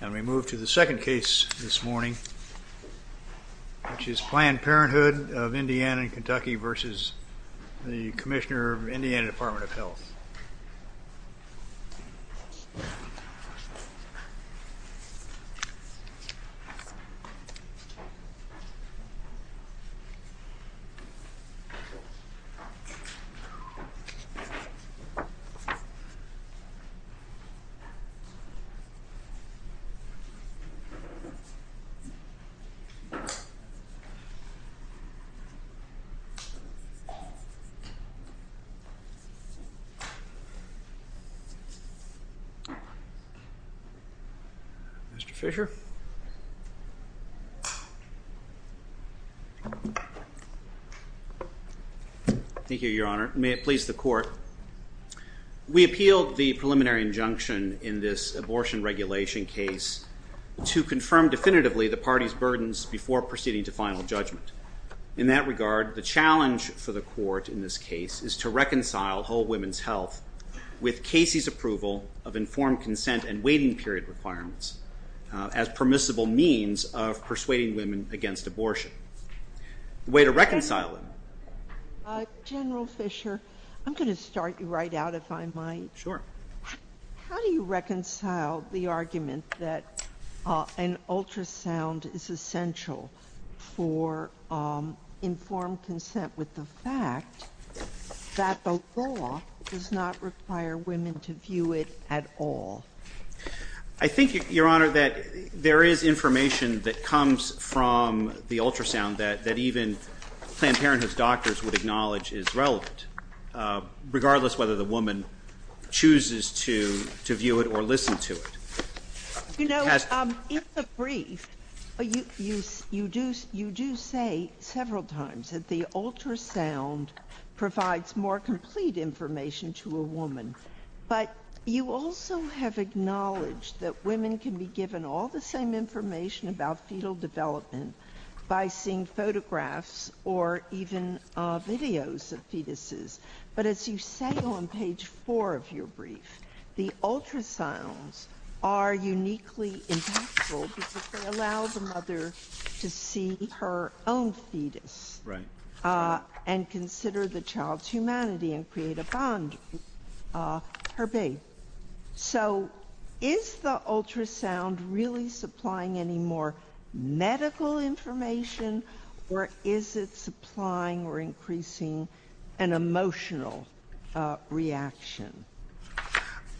And we move to the second case this morning, which is Planned Parenthood of Indiana and Kentucky versus the Commissioner of Indiana Department of Health. Mr. Fisher. Thank you, Your Honor. May it please the court. We appeal the preliminary injunction in this abortion regulation case to confirm definitively the party's burdens before proceeding to final judgment. In that regard, the challenge for the court in this case is to reconcile whole women's health with Casey's approval of informed consent and waiting period requirements as permissible means of persuading women against abortion. The way to reconcile General Fisher, I'm going to start you right out if I might. Sure. How do you reconcile the argument that an ultrasound is essential for informed consent with the fact that the law does not require women to view it at all? I think, Your Honor, that there is information that comes from the ultrasound that even Planned Parenthood's doctors would acknowledge is relevant, regardless whether the woman chooses to view it or listen to it. You know, in the brief, you do say several times that the ultrasound provides more complete information to a woman, but you also have acknowledged that women can be given all the same information about fetal development by seeing photographs or even videos of fetuses. But as you say on page four of your brief, the ultrasounds are uniquely impactful because they allow the herpes. So is the ultrasound really supplying any more medical information or is it supplying or increasing an emotional reaction?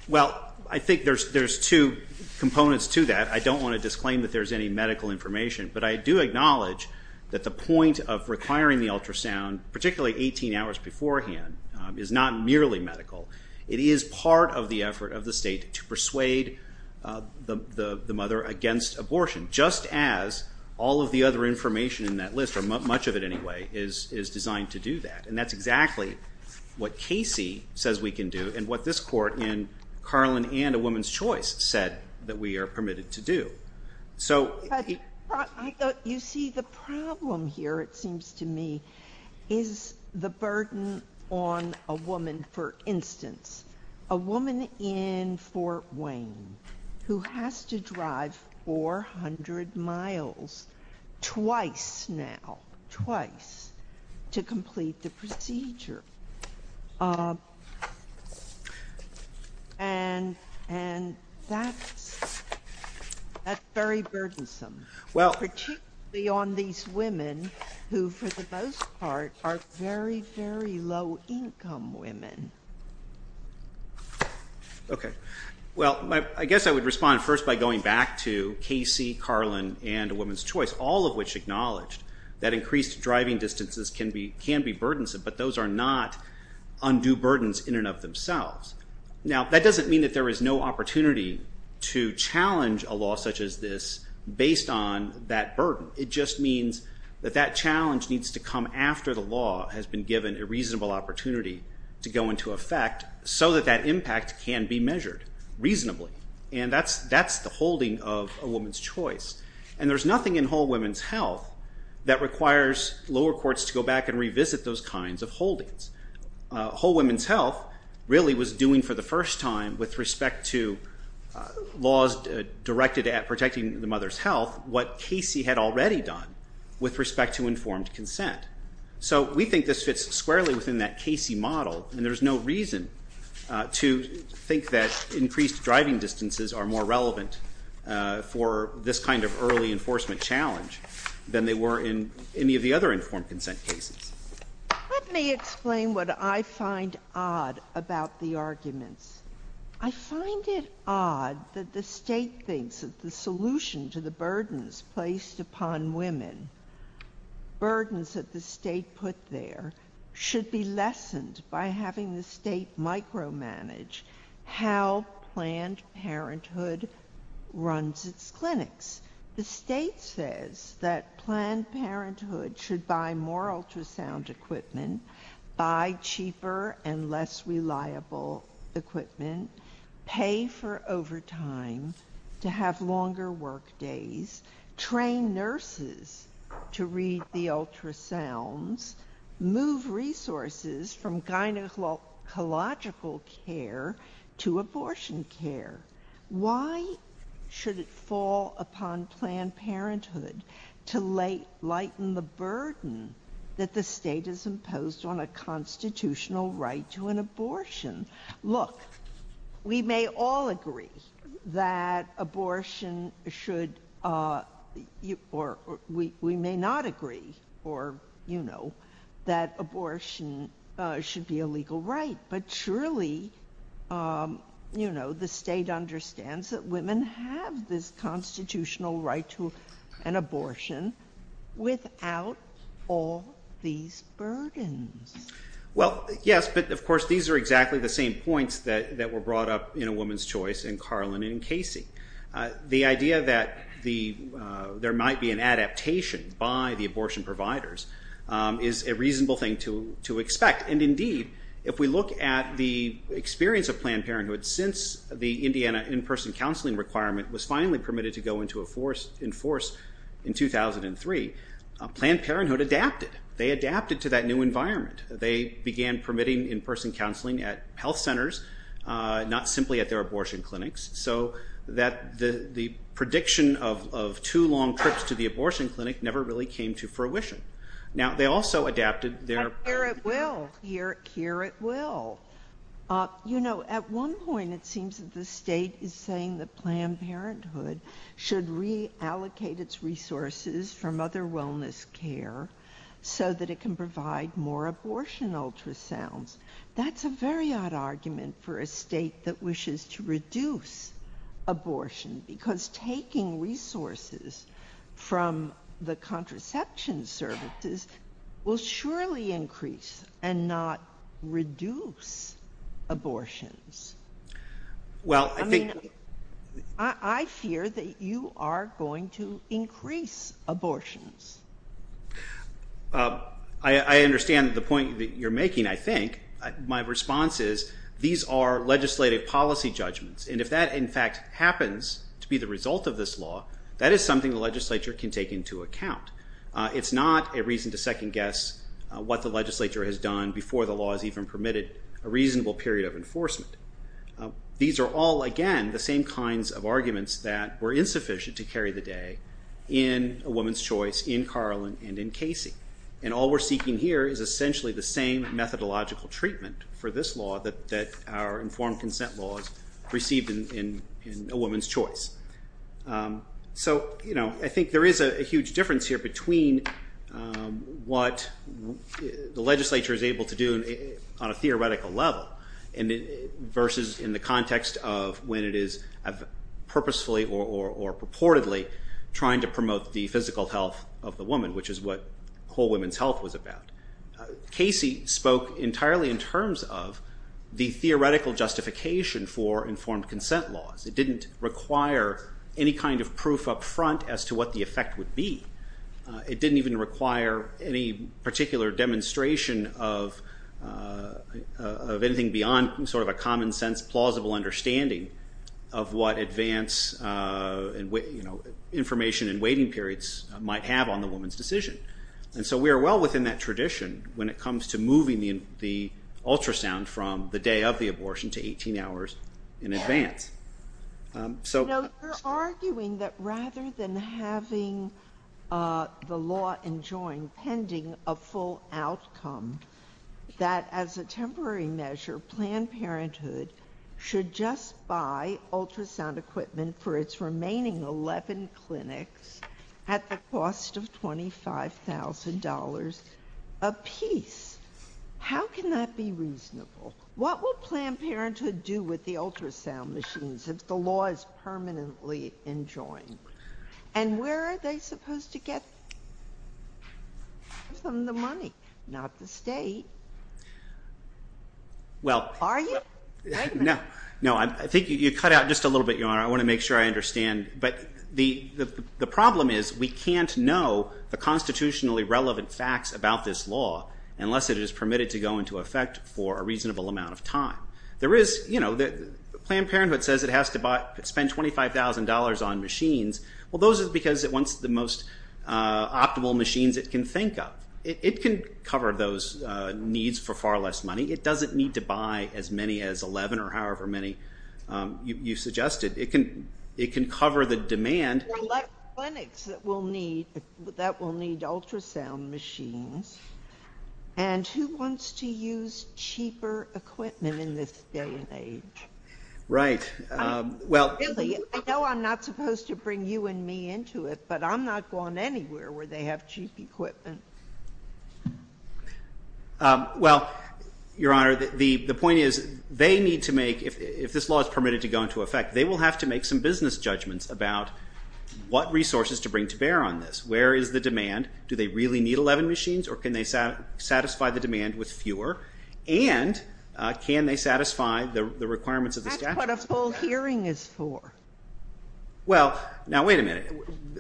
Well, I think there's two components to that. I don't want to disclaim that there's any medical information, but I do acknowledge that the It is part of the effort of the state to persuade the mother against abortion, just as all of the other information in that list, or much of it anyway, is designed to do that. And that's exactly what Casey says we can do and what this Court in Carlin and A Woman's Choice said that we are permitted to do. But you see, the problem here, it seems to me, is the burden on a woman, for instance, a woman in Fort Wayne who has to drive 400 miles twice now, twice, to complete the procedure. And that's very burdensome, particularly on these part, are very, very low income women. Okay. Well, I guess I would respond first by going back to Casey, Carlin, and A Woman's Choice, all of which acknowledged that increased driving distances can be burdensome, but those are not undue burdens in and of themselves. Now, that doesn't mean that there is no opportunity to challenge a law such as this based on that after the law has been given a reasonable opportunity to go into effect so that that impact can be measured reasonably. And that's the holding of A Woman's Choice. And there's nothing in Whole Women's Health that requires lower courts to go back and revisit those kinds of holdings. Whole Women's Health really was doing for the first time with respect to laws directed at protecting the mother's health what Casey had already done with respect to informed consent. So we think this fits squarely within that Casey model, and there's no reason to think that increased driving distances are more relevant for this kind of early enforcement challenge than they were in any of the other informed consent cases. Let me explain what I find odd about the arguments. I find it odd that the State thinks that the burdens that the State put there should be lessened by having the State micromanage how Planned Parenthood runs its clinics. The State says that Planned Parenthood should buy more ultrasound equipment, buy cheaper and less reliable equipment, pay for overtime to have longer work days, train nurses to read the ultrasounds, move resources from gynecological care to abortion care. Why should it fall upon Planned Parenthood to lighten the burden that the State has imposed on a constitutional right to an abortion? Look, we may all agree that abortion should, or we may not agree, or you know, that abortion should be a legal right, but surely, you know, the State understands that women have this constitutional right to an abortion without all these burdens. Well, yes, but of course these are exactly the same points that were brought up in A Carlin and Casey. The idea that there might be an adaptation by the abortion providers is a reasonable thing to expect, and indeed, if we look at the experience of Planned Parenthood since the Indiana in-person counseling requirement was finally permitted to go into force in 2003, Planned Parenthood adapted. They adapted to that new environment. They began permitting in-person counseling at health centers, not simply at their abortion clinics, so that the prediction of too long trips to the abortion clinic never really came to fruition. Now, they also adapted their... Here at will. Here at will. You know, at one point, it seems that the State is saying that Planned Parenthood should reallocate its resources from other wellness care so that it can provide more abortion ultrasounds. That's a very odd argument for a state that wishes to reduce abortion because taking resources from the contraception services will surely increase and not reduce abortions. Well I think... I fear that you are going to increase abortions. I understand the point that you're making, I think. My response is these are legislative policy judgments, and if that in fact happens to be the result of this law, that is something the legislature can take into account. It's not a reason to second guess what the legislature has done before the law has even permitted a reasonable period of enforcement. These are all, again, the same kinds of arguments that were insufficient to carry the day in A Woman's Choice, in Carlin, and in Casey. And all we're seeking here is essentially the same methodological treatment for this law that our informed consent laws received in A Woman's Choice. So I think there is a huge difference here between what the legislature is able to do on a theoretical level versus in the context of when it is purposefully or purportedly trying to promote the physical health of the woman, which is what Whole Women's Health was about. Casey spoke entirely in terms of the theoretical justification for informed consent laws. It didn't require any kind of proof up front as to what the effect would be. It didn't even require any particular demonstration of anything beyond sort of a common sense plausible understanding of what information in waiting periods might have on the woman's decision. And so we are well within that tradition when it comes to moving the ultrasound from the day of the abortion to 18 hours in advance. You're arguing that rather than having the law enjoined pending a full outcome, that as a temporary measure, Planned Parenthood should just buy ultrasound equipment for its remaining 11 clinics at the cost of $25,000 a piece. How can that be reasonable? What will Planned Parenthood do with the ultrasound machines if the law is permanently enjoined? And where are they supposed to get the money? Not the state. Are you? No. I think you cut out just a little bit, Your Honor. I want to make sure I understand. But the problem is we can't know the constitutionally relevant facts about this law unless it is permitted to go into effect for a reasonable amount of time. Planned Parenthood says it has to spend $25,000 on machines. Well, those are because it wants the most optimal machines it can think of. It can cover those needs for far less money. It doesn't need to buy as many as 11 or however many you suggested. It can cover the demand. There are a lot of clinics that will need ultrasound machines. And who wants to use them? Really, I know I'm not supposed to bring you and me into it, but I'm not going anywhere where they have cheap equipment. Well, Your Honor, the point is they need to make, if this law is permitted to go into effect, they will have to make some business judgments about what resources to bring to bear on this. Where is the demand? Do they really need 11 machines or can they satisfy the demand with fewer? And can they satisfy the requirements of the statute? That's what a full hearing is for. Well, now wait a minute.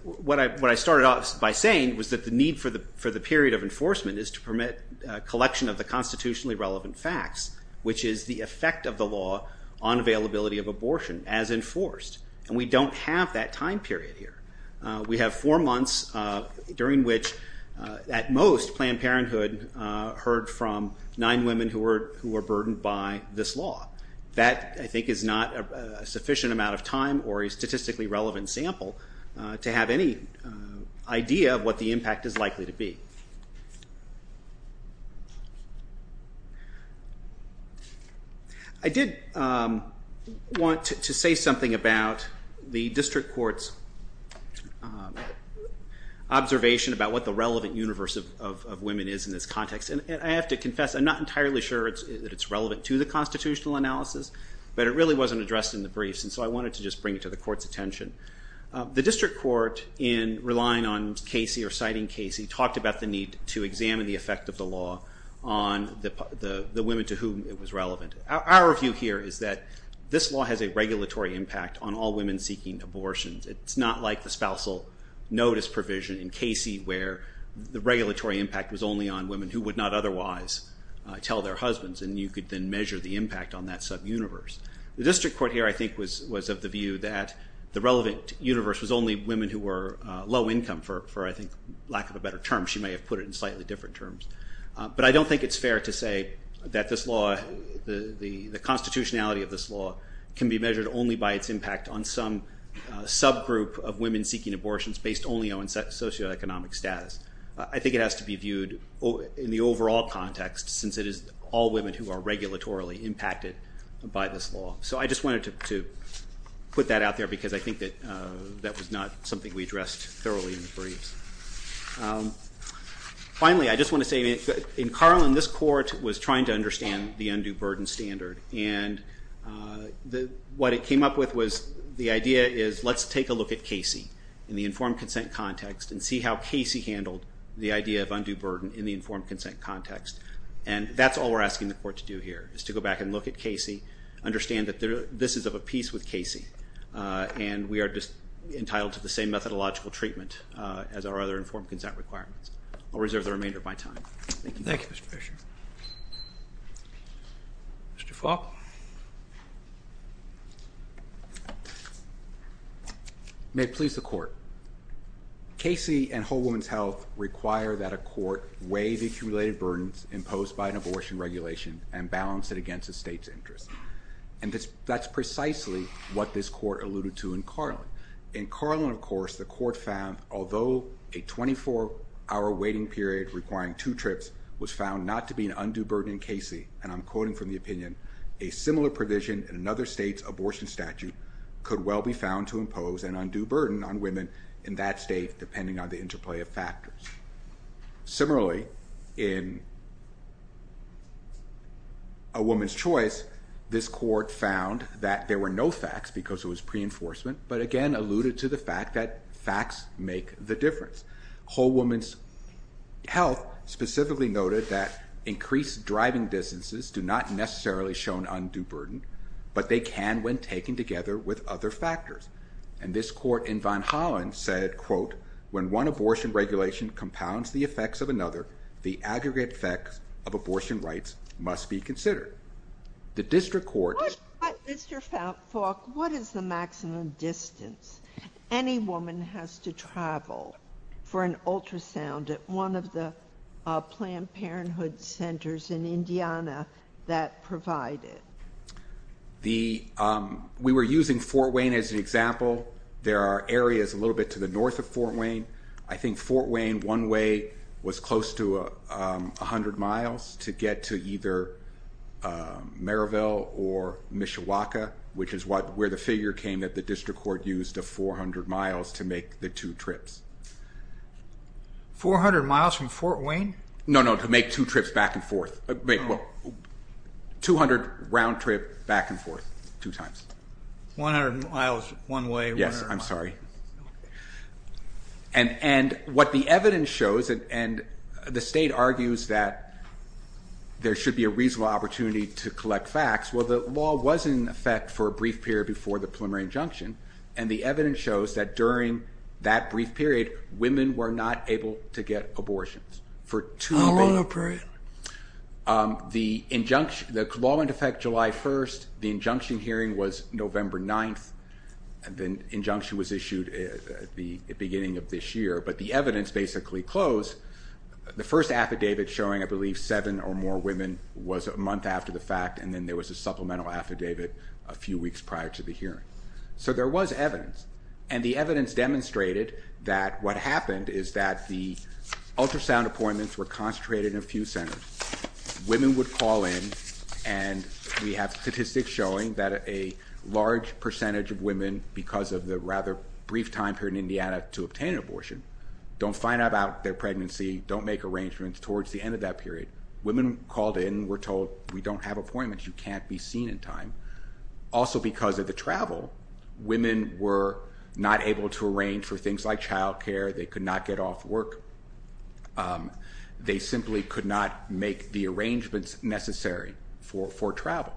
What I started off by saying was that the need for the period of enforcement is to permit collection of the constitutionally relevant facts, which is the effect of the law on availability of abortion as enforced. And we don't have that time period here. We have four months during which, at most, Planned Parenthood heard from nine women who were burdened by this law. That, I think, is not a sufficient amount of time or a statistically relevant sample to have any idea of what the impact is likely to be. I did want to say something about the district court's observation about what the relevant universe of women is in this context. And I have to confess, I'm not entirely sure that it's relevant to the constitutional analysis, but it really wasn't addressed in the briefs. And so I wanted to just bring it to the court's attention. The district court, in relying on Casey or citing Casey, talked about the need to examine the effect of the law on the women to whom it was relevant. Our view here is that this law has a regulatory impact on all women seeking abortions. It's not like the spousal notice provision in Casey where the regulatory impact was only on women who would not otherwise tell their husbands. And you could then measure the impact on that sub-universe. The district court here, I think, was of the view that the relevant universe was only women who were low income, for lack of a better term. She may have put it in slightly different terms. But I don't think it's fair to say that the constitutionality of this law can be measured only by its impact on some subgroup of women seeking abortions based only on socioeconomic status. I think it has to be viewed in the overall context, since it is all women who are regulatorily impacted by this law. So I just wanted to put that out there because I think that was not something we addressed thoroughly in the briefs. Finally, I just want to say, in Carlin, this court was trying to understand the undue burden standard. And what it came up with was the idea is let's take a look at Casey in the informed consent context and see how Casey handled the idea of undue burden in the informed consent context. And that's all we're asking the court to do here, is to go back and look at Casey, understand that this is of a piece with Casey, and we are entitled to the same methodological treatment as our other informed consent requirements. I'll reserve the remainder of my time. Thank you. Thank you, Mr. Fisher. Mr. Falk. May it please the court. Casey and Whole Woman's Health require that a court weigh the accumulated burdens imposed by an abortion regulation and balance it against the state's interest. And that's precisely what this court alluded to in Carlin. In Carlin, of course, the court found although a 24-hour waiting period requiring two trips was found not to be an undue burden in Casey, and I'm quoting from the opinion, a similar provision in another state's abortion statute could well be found to impose an undue burden on women in that state depending on the interplay of factors. Similarly, in A Woman's Choice, this court found that there were no facts because it was pre-enforcement, but again alluded to the fact that facts make the difference. Whole Woman's Health specifically noted that increased driving distances do not necessarily show an undue burden, but they can when taken together with other factors. And this court in Van Hollen said, quote, when one abortion regulation compounds the effects of another, the aggregate effects of abortion rights must be considered. The district court... Mr. Falk, what is the maximum distance any woman has to travel for an ultrasound at one of the Planned Parenthood centers in Indiana that provide it? We were using Fort Wayne as an example. There are areas a little bit to the north of Fort Maryville or Mishawaka, which is where the figure came that the district court used of 400 miles to make the two trips. 400 miles from Fort Wayne? No, no, to make two trips back and forth. 200 round trip back and forth, two times. 100 miles one way. Yes, I'm sorry. And what the evidence shows, and the state argues that there should be a reasonable opportunity to collect facts, well, the law was in effect for a brief period before the preliminary injunction, and the evidence shows that during that brief period, women were not able to get abortions. Oh, okay. The law went into effect July 1st. The injunction hearing was November 9th. The injunction was issued at the beginning of this year, but the evidence basically closed. The first affidavit showing, I believe, seven or more women was a month after the fact, and then there was a supplemental affidavit a few weeks prior to the hearing. So there was evidence, and the evidence demonstrated that what happened is that the ultrasound appointments were concentrated in a few centers. Women would call in, and we have statistics showing that a large percentage of women, because of the rather brief time period in Indiana to obtain an abortion, don't find out about their pregnancy, don't make arrangements towards the end of that period. Women called in, were told, we don't have appointments. You can't be seen in time. Also because of the travel, women were not able to arrange for things like childcare. They could not get off work. They simply could not make the arrangements necessary for travel.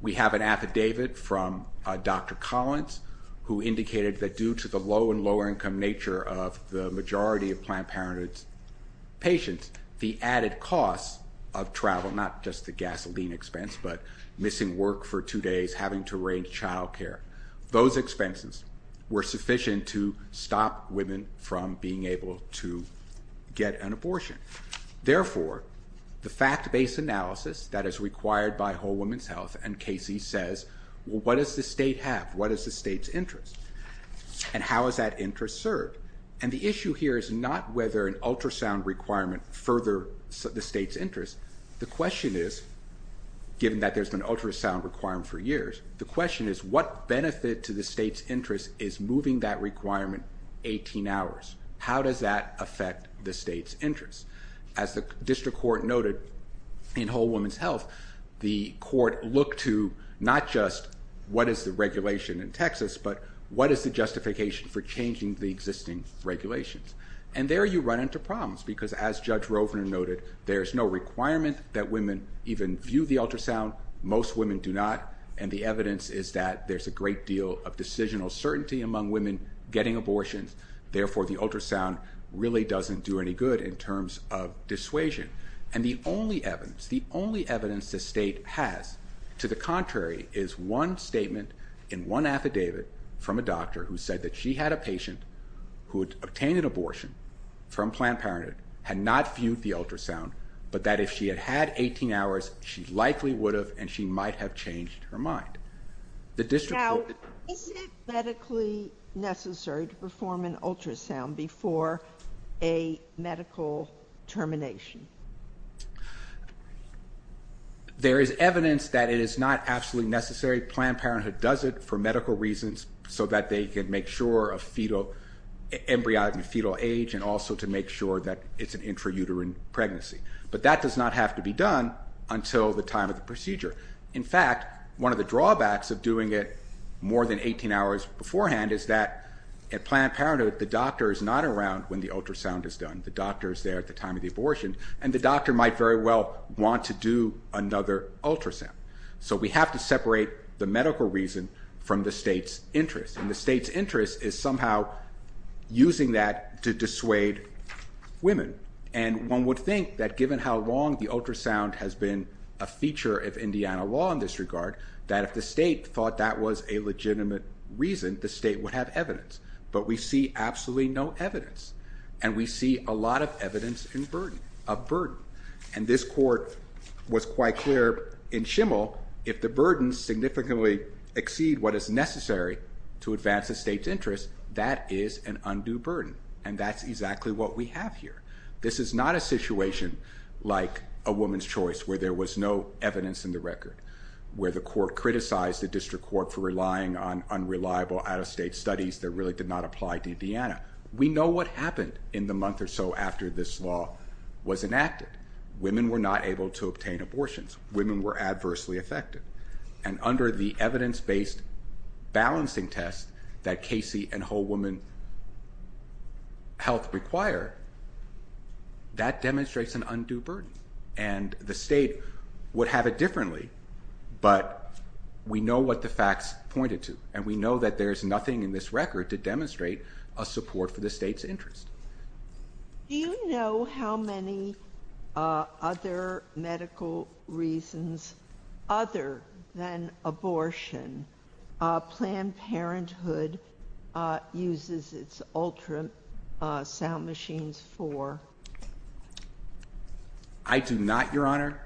We have an affidavit from Dr. Collins who indicated that due to the low and lower income nature of the majority of Planned Parenthood patients, the added cost of travel, not just the gasoline expense, but missing work for two days, having to arrange childcare, those expenses were sufficient to stop women from being able to get an abortion. Therefore, the fact-based analysis that is required by Whole Woman's Health, and Casey says, well, what does the state have? What is the state's interest? And how is that interest served? And the issue here is not whether an ultrasound requirement further the state's interest. The question is, given that there's been an ultrasound requirement for years, the question is, what benefit to the state's interest is moving that requirement 18 hours? How does that affect the state's interest? As the district court noted, in Whole Woman's Health, the court looked to not just what is the regulation in Texas, but what is the justification for changing the existing regulations? And there you run into problems, because as Judge Rovner noted, there's no requirement that women even view the ultrasound. Most women do not. And the evidence is that there's a great deal of decisional certainty among women getting abortions. Therefore, the ultrasound really doesn't do any good in terms of dissuasion. And the only evidence, the only evidence the state has, to the contrary, is one statement in one affidavit from a doctor who said that she had a patient who had obtained an abortion from Planned Parenthood, had not viewed the ultrasound, but that if she had had 18 hours, she likely would have and she might have changed her mind. The district court... Is it medically necessary to perform an ultrasound before a medical termination? There is evidence that it is not absolutely necessary. Planned Parenthood does it for medical reasons so that they can make sure of fetal, embryonic and fetal age, and also to make sure that it's an intrauterine pregnancy. But that does not have to be done until the time of the procedure. In fact, one of the drawbacks of doing it more than 18 hours beforehand is that at Planned Parenthood, the doctor is not around when the ultrasound is done. The doctor is there at the time of the abortion and the doctor might very well want to do another ultrasound. So we have to separate the medical reason from the state's interest. And the state's interest is somehow using that to dissuade women. And one would think that given how long the ultrasound has been a feature of Indiana law in this regard, that if the state thought that was a legitimate reason, the state would have evidence. But we see absolutely no evidence. And we see a lot of evidence of burden. And this court was quite clear in Schimel, if the burden significantly exceeds what is necessary to advance the state's interest, that is an undue burden. And that's exactly what we have here. This is not a situation like a woman's choice where there was no evidence in the record, where the court criticized the district court for relying on unreliable out-of-state studies that really did not apply to Indiana. We know what happened in the month or so after this law was enacted. Women were not able to obtain abortions. Women were adversely affected. And under the evidence-based balancing test that Casey and Whole Woman Health require, that demonstrates an undue burden. And the state would have it differently, but we know what the facts pointed to. And we know that there's nothing in this record to demonstrate a support for the state's interest. Do you know how many other medical reasons, other than abortion, Planned Parenthood uses its ultrasound machines for? I do not, Your Honor.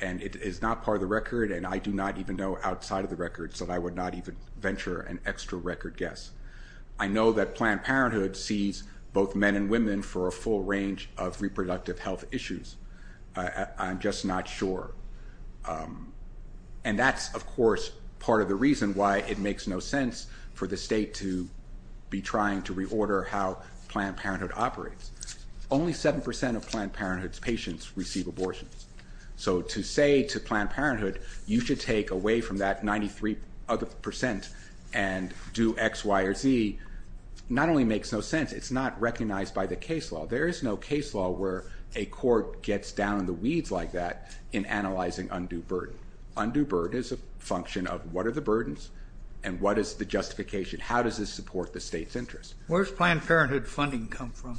And it is not part of the record, and I do not even know outside of the record, so I would not even venture an extra record guess. I know that Planned Parenthood sees both men and women for a full range of reproductive health issues. I'm just not sure. And that's, of course, part of the reason why it makes no sense for the state to be trying to reorder how Planned Parenthood operates. Only 7% of Planned Parenthood's patients receive abortions. So to say to Planned Parenthood, you should take away from that 93% and do X, Y, or Z, not only makes no sense, it's not recognized by the case law. There is no case law where a court gets down in the weeds like that in analyzing undue burden. Undue burden is a function of what are the burdens and what is the justification. How does this support the state's interest? Where's Planned Parenthood funding come from?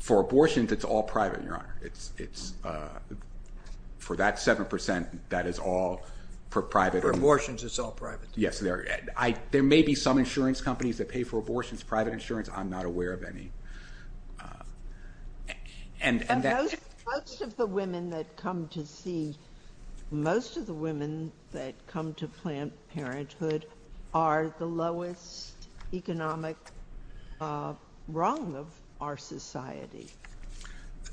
For abortions, it's all private, Your Honor. For that 7%, that is all private. For abortions, it's all private? Yes. There may be some insurance companies that pay for abortions, private insurance. I'm not aware of any. And most of the women that come to see, most of the women that come to Planned Parenthood are the lowest economic rung of our society.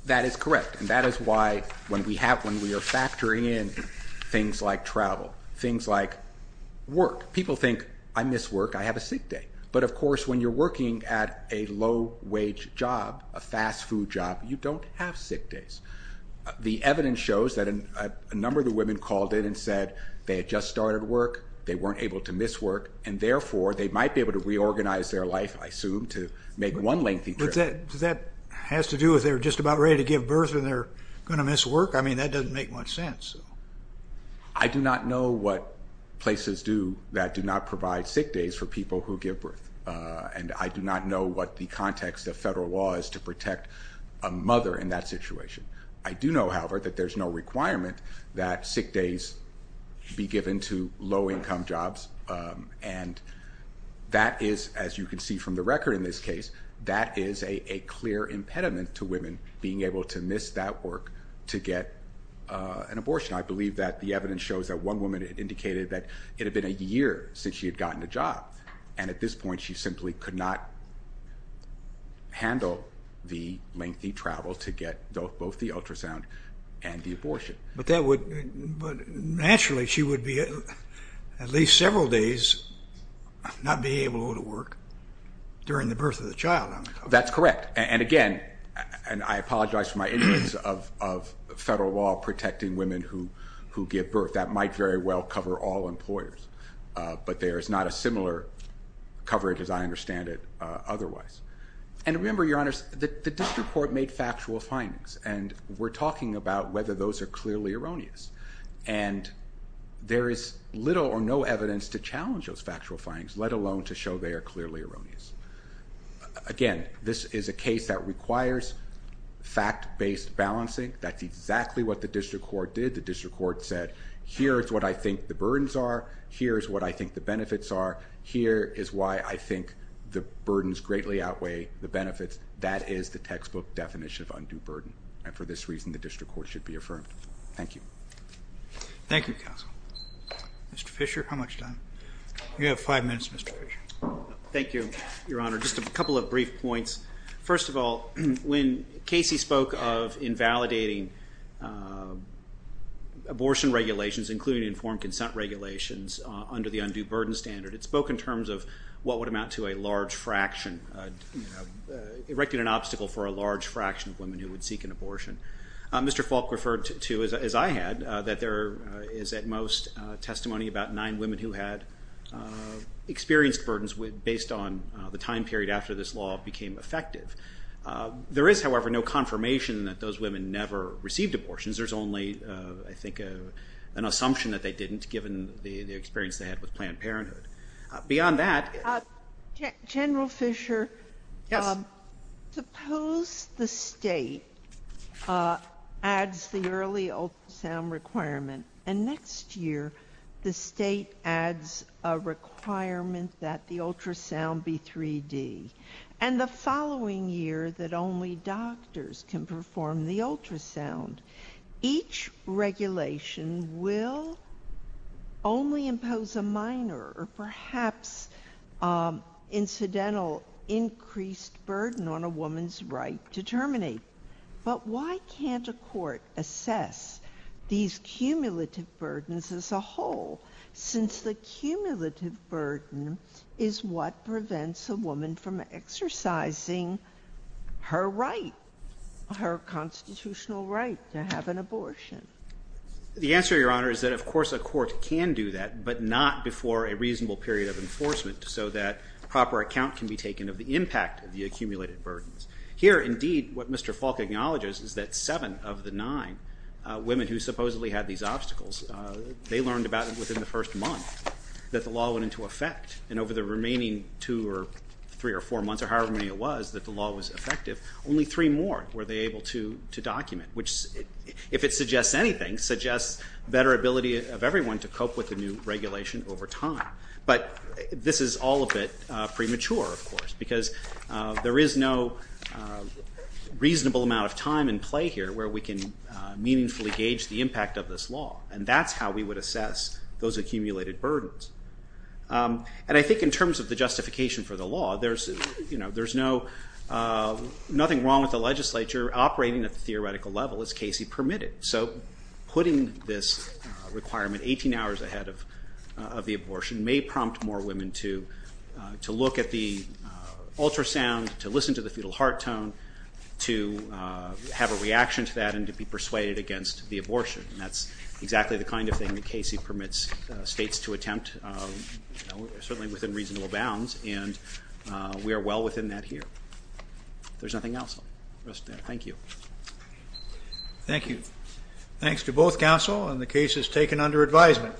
That is correct. And that is why when we have, when we are factoring in things like travel, things like work, people think, I miss work, I have a sick day. But of course, when you're a low-wage job, a fast-food job, you don't have sick days. The evidence shows that a number of the women called in and said they had just started work, they weren't able to miss work, and therefore, they might be able to reorganize their life, I assume, to make one lengthy trip. Does that have to do with they're just about ready to give birth and they're going to miss work? I mean, that doesn't make much sense. I do not know what places do that do not provide sick days for people who give birth. And I do not know what the context of federal law is to protect a mother in that situation. I do know, however, that there's no requirement that sick days be given to low-income jobs. And that is, as you can see from the record in this case, that is a clear impediment to women being able to miss that work to get an abortion. I believe that the evidence shows that one woman indicated that it had been a year since she had gotten a job. And at this point, she simply could not handle the lengthy travel to get both the ultrasound and the abortion. But naturally, she would be, at least several days, not be able to go to work during the birth of the child. That's correct. And again, and I apologize for my ignorance of federal law protecting women who give birth. That might very well cover all employers. But there is not a similar coverage, as I understand it, otherwise. And remember, Your Honor, the district court made factual findings. And we're talking about whether those are clearly erroneous. And there is little or no evidence to challenge those factual findings, let alone to show they are clearly erroneous. Again, this is a case that requires fact-based balancing. That's exactly what the district court did. The district court said, here is what I think the burdens are. Here is what I think the benefits are. Here is why I think the burdens greatly outweigh the benefits. That is the textbook definition of undue burden. And for this reason, the district court should be affirmed. Thank you. Thank you, counsel. Mr. Fisher, how much time? You have five minutes, Mr. Fisher. Thank you, Your Honor. Just a couple of brief points. First of all, when Casey spoke of validating abortion regulations, including informed consent regulations, under the undue burden standard, it spoke in terms of what would amount to a large fraction, erecting an obstacle for a large fraction of women who would seek an abortion. Mr. Falk referred to, as I had, that there is at most testimony about nine women who had experienced burdens based on the time period after this law became effective. There is, however, no confirmation that those women never received abortions. There is only, I think, an assumption that they didn't, given the experience they had with Planned Parenthood. Beyond that General Fisher, suppose the State adds the early ultrasound requirement, and next year the State adds a requirement that the ultrasound be 3D, and the following year that only doctors can perform the ultrasound. Each regulation will only impose a minor or perhaps incidental increased burden on a woman's right to terminate. But why can't a court assess these cumulative burdens as a whole, since the cumulative burden is what prevents a woman from exercising her right, her constitutional right to have an abortion? The answer, Your Honor, is that of course a court can do that, but not before a reasonable period of enforcement, so that proper account can be taken of the impact of the accumulated burdens. Here, indeed, what Mr. Falk acknowledges is that seven of the nine women who supposedly had these obstacles, they learned about it within the first month that the law went into effect. And over the remaining two or three or four months, or however many it was, that the law was effective, only three more were they able to document, which, if it suggests anything, suggests better ability of everyone to cope with the new regulation over time. But this is all a bit premature, of course, because there is no reasonable amount of time in play here where we can meaningfully gauge the impact of this law, and that's how we would assess those accumulated burdens. And I think in terms of the justification for the law, there's nothing wrong with the legislature operating at the theoretical level, as Casey permitted. So putting this requirement 18 hours ahead of the abortion may prompt more women to look at the ultrasound, to listen to the fetal heart tone, to have a reaction to that, and to be persuaded against the abortion. And that's exactly the kind of thing that we are well within that here. There's nothing else. Thank you. Thank you. Thanks to both counsel, and the case is taken under advisement.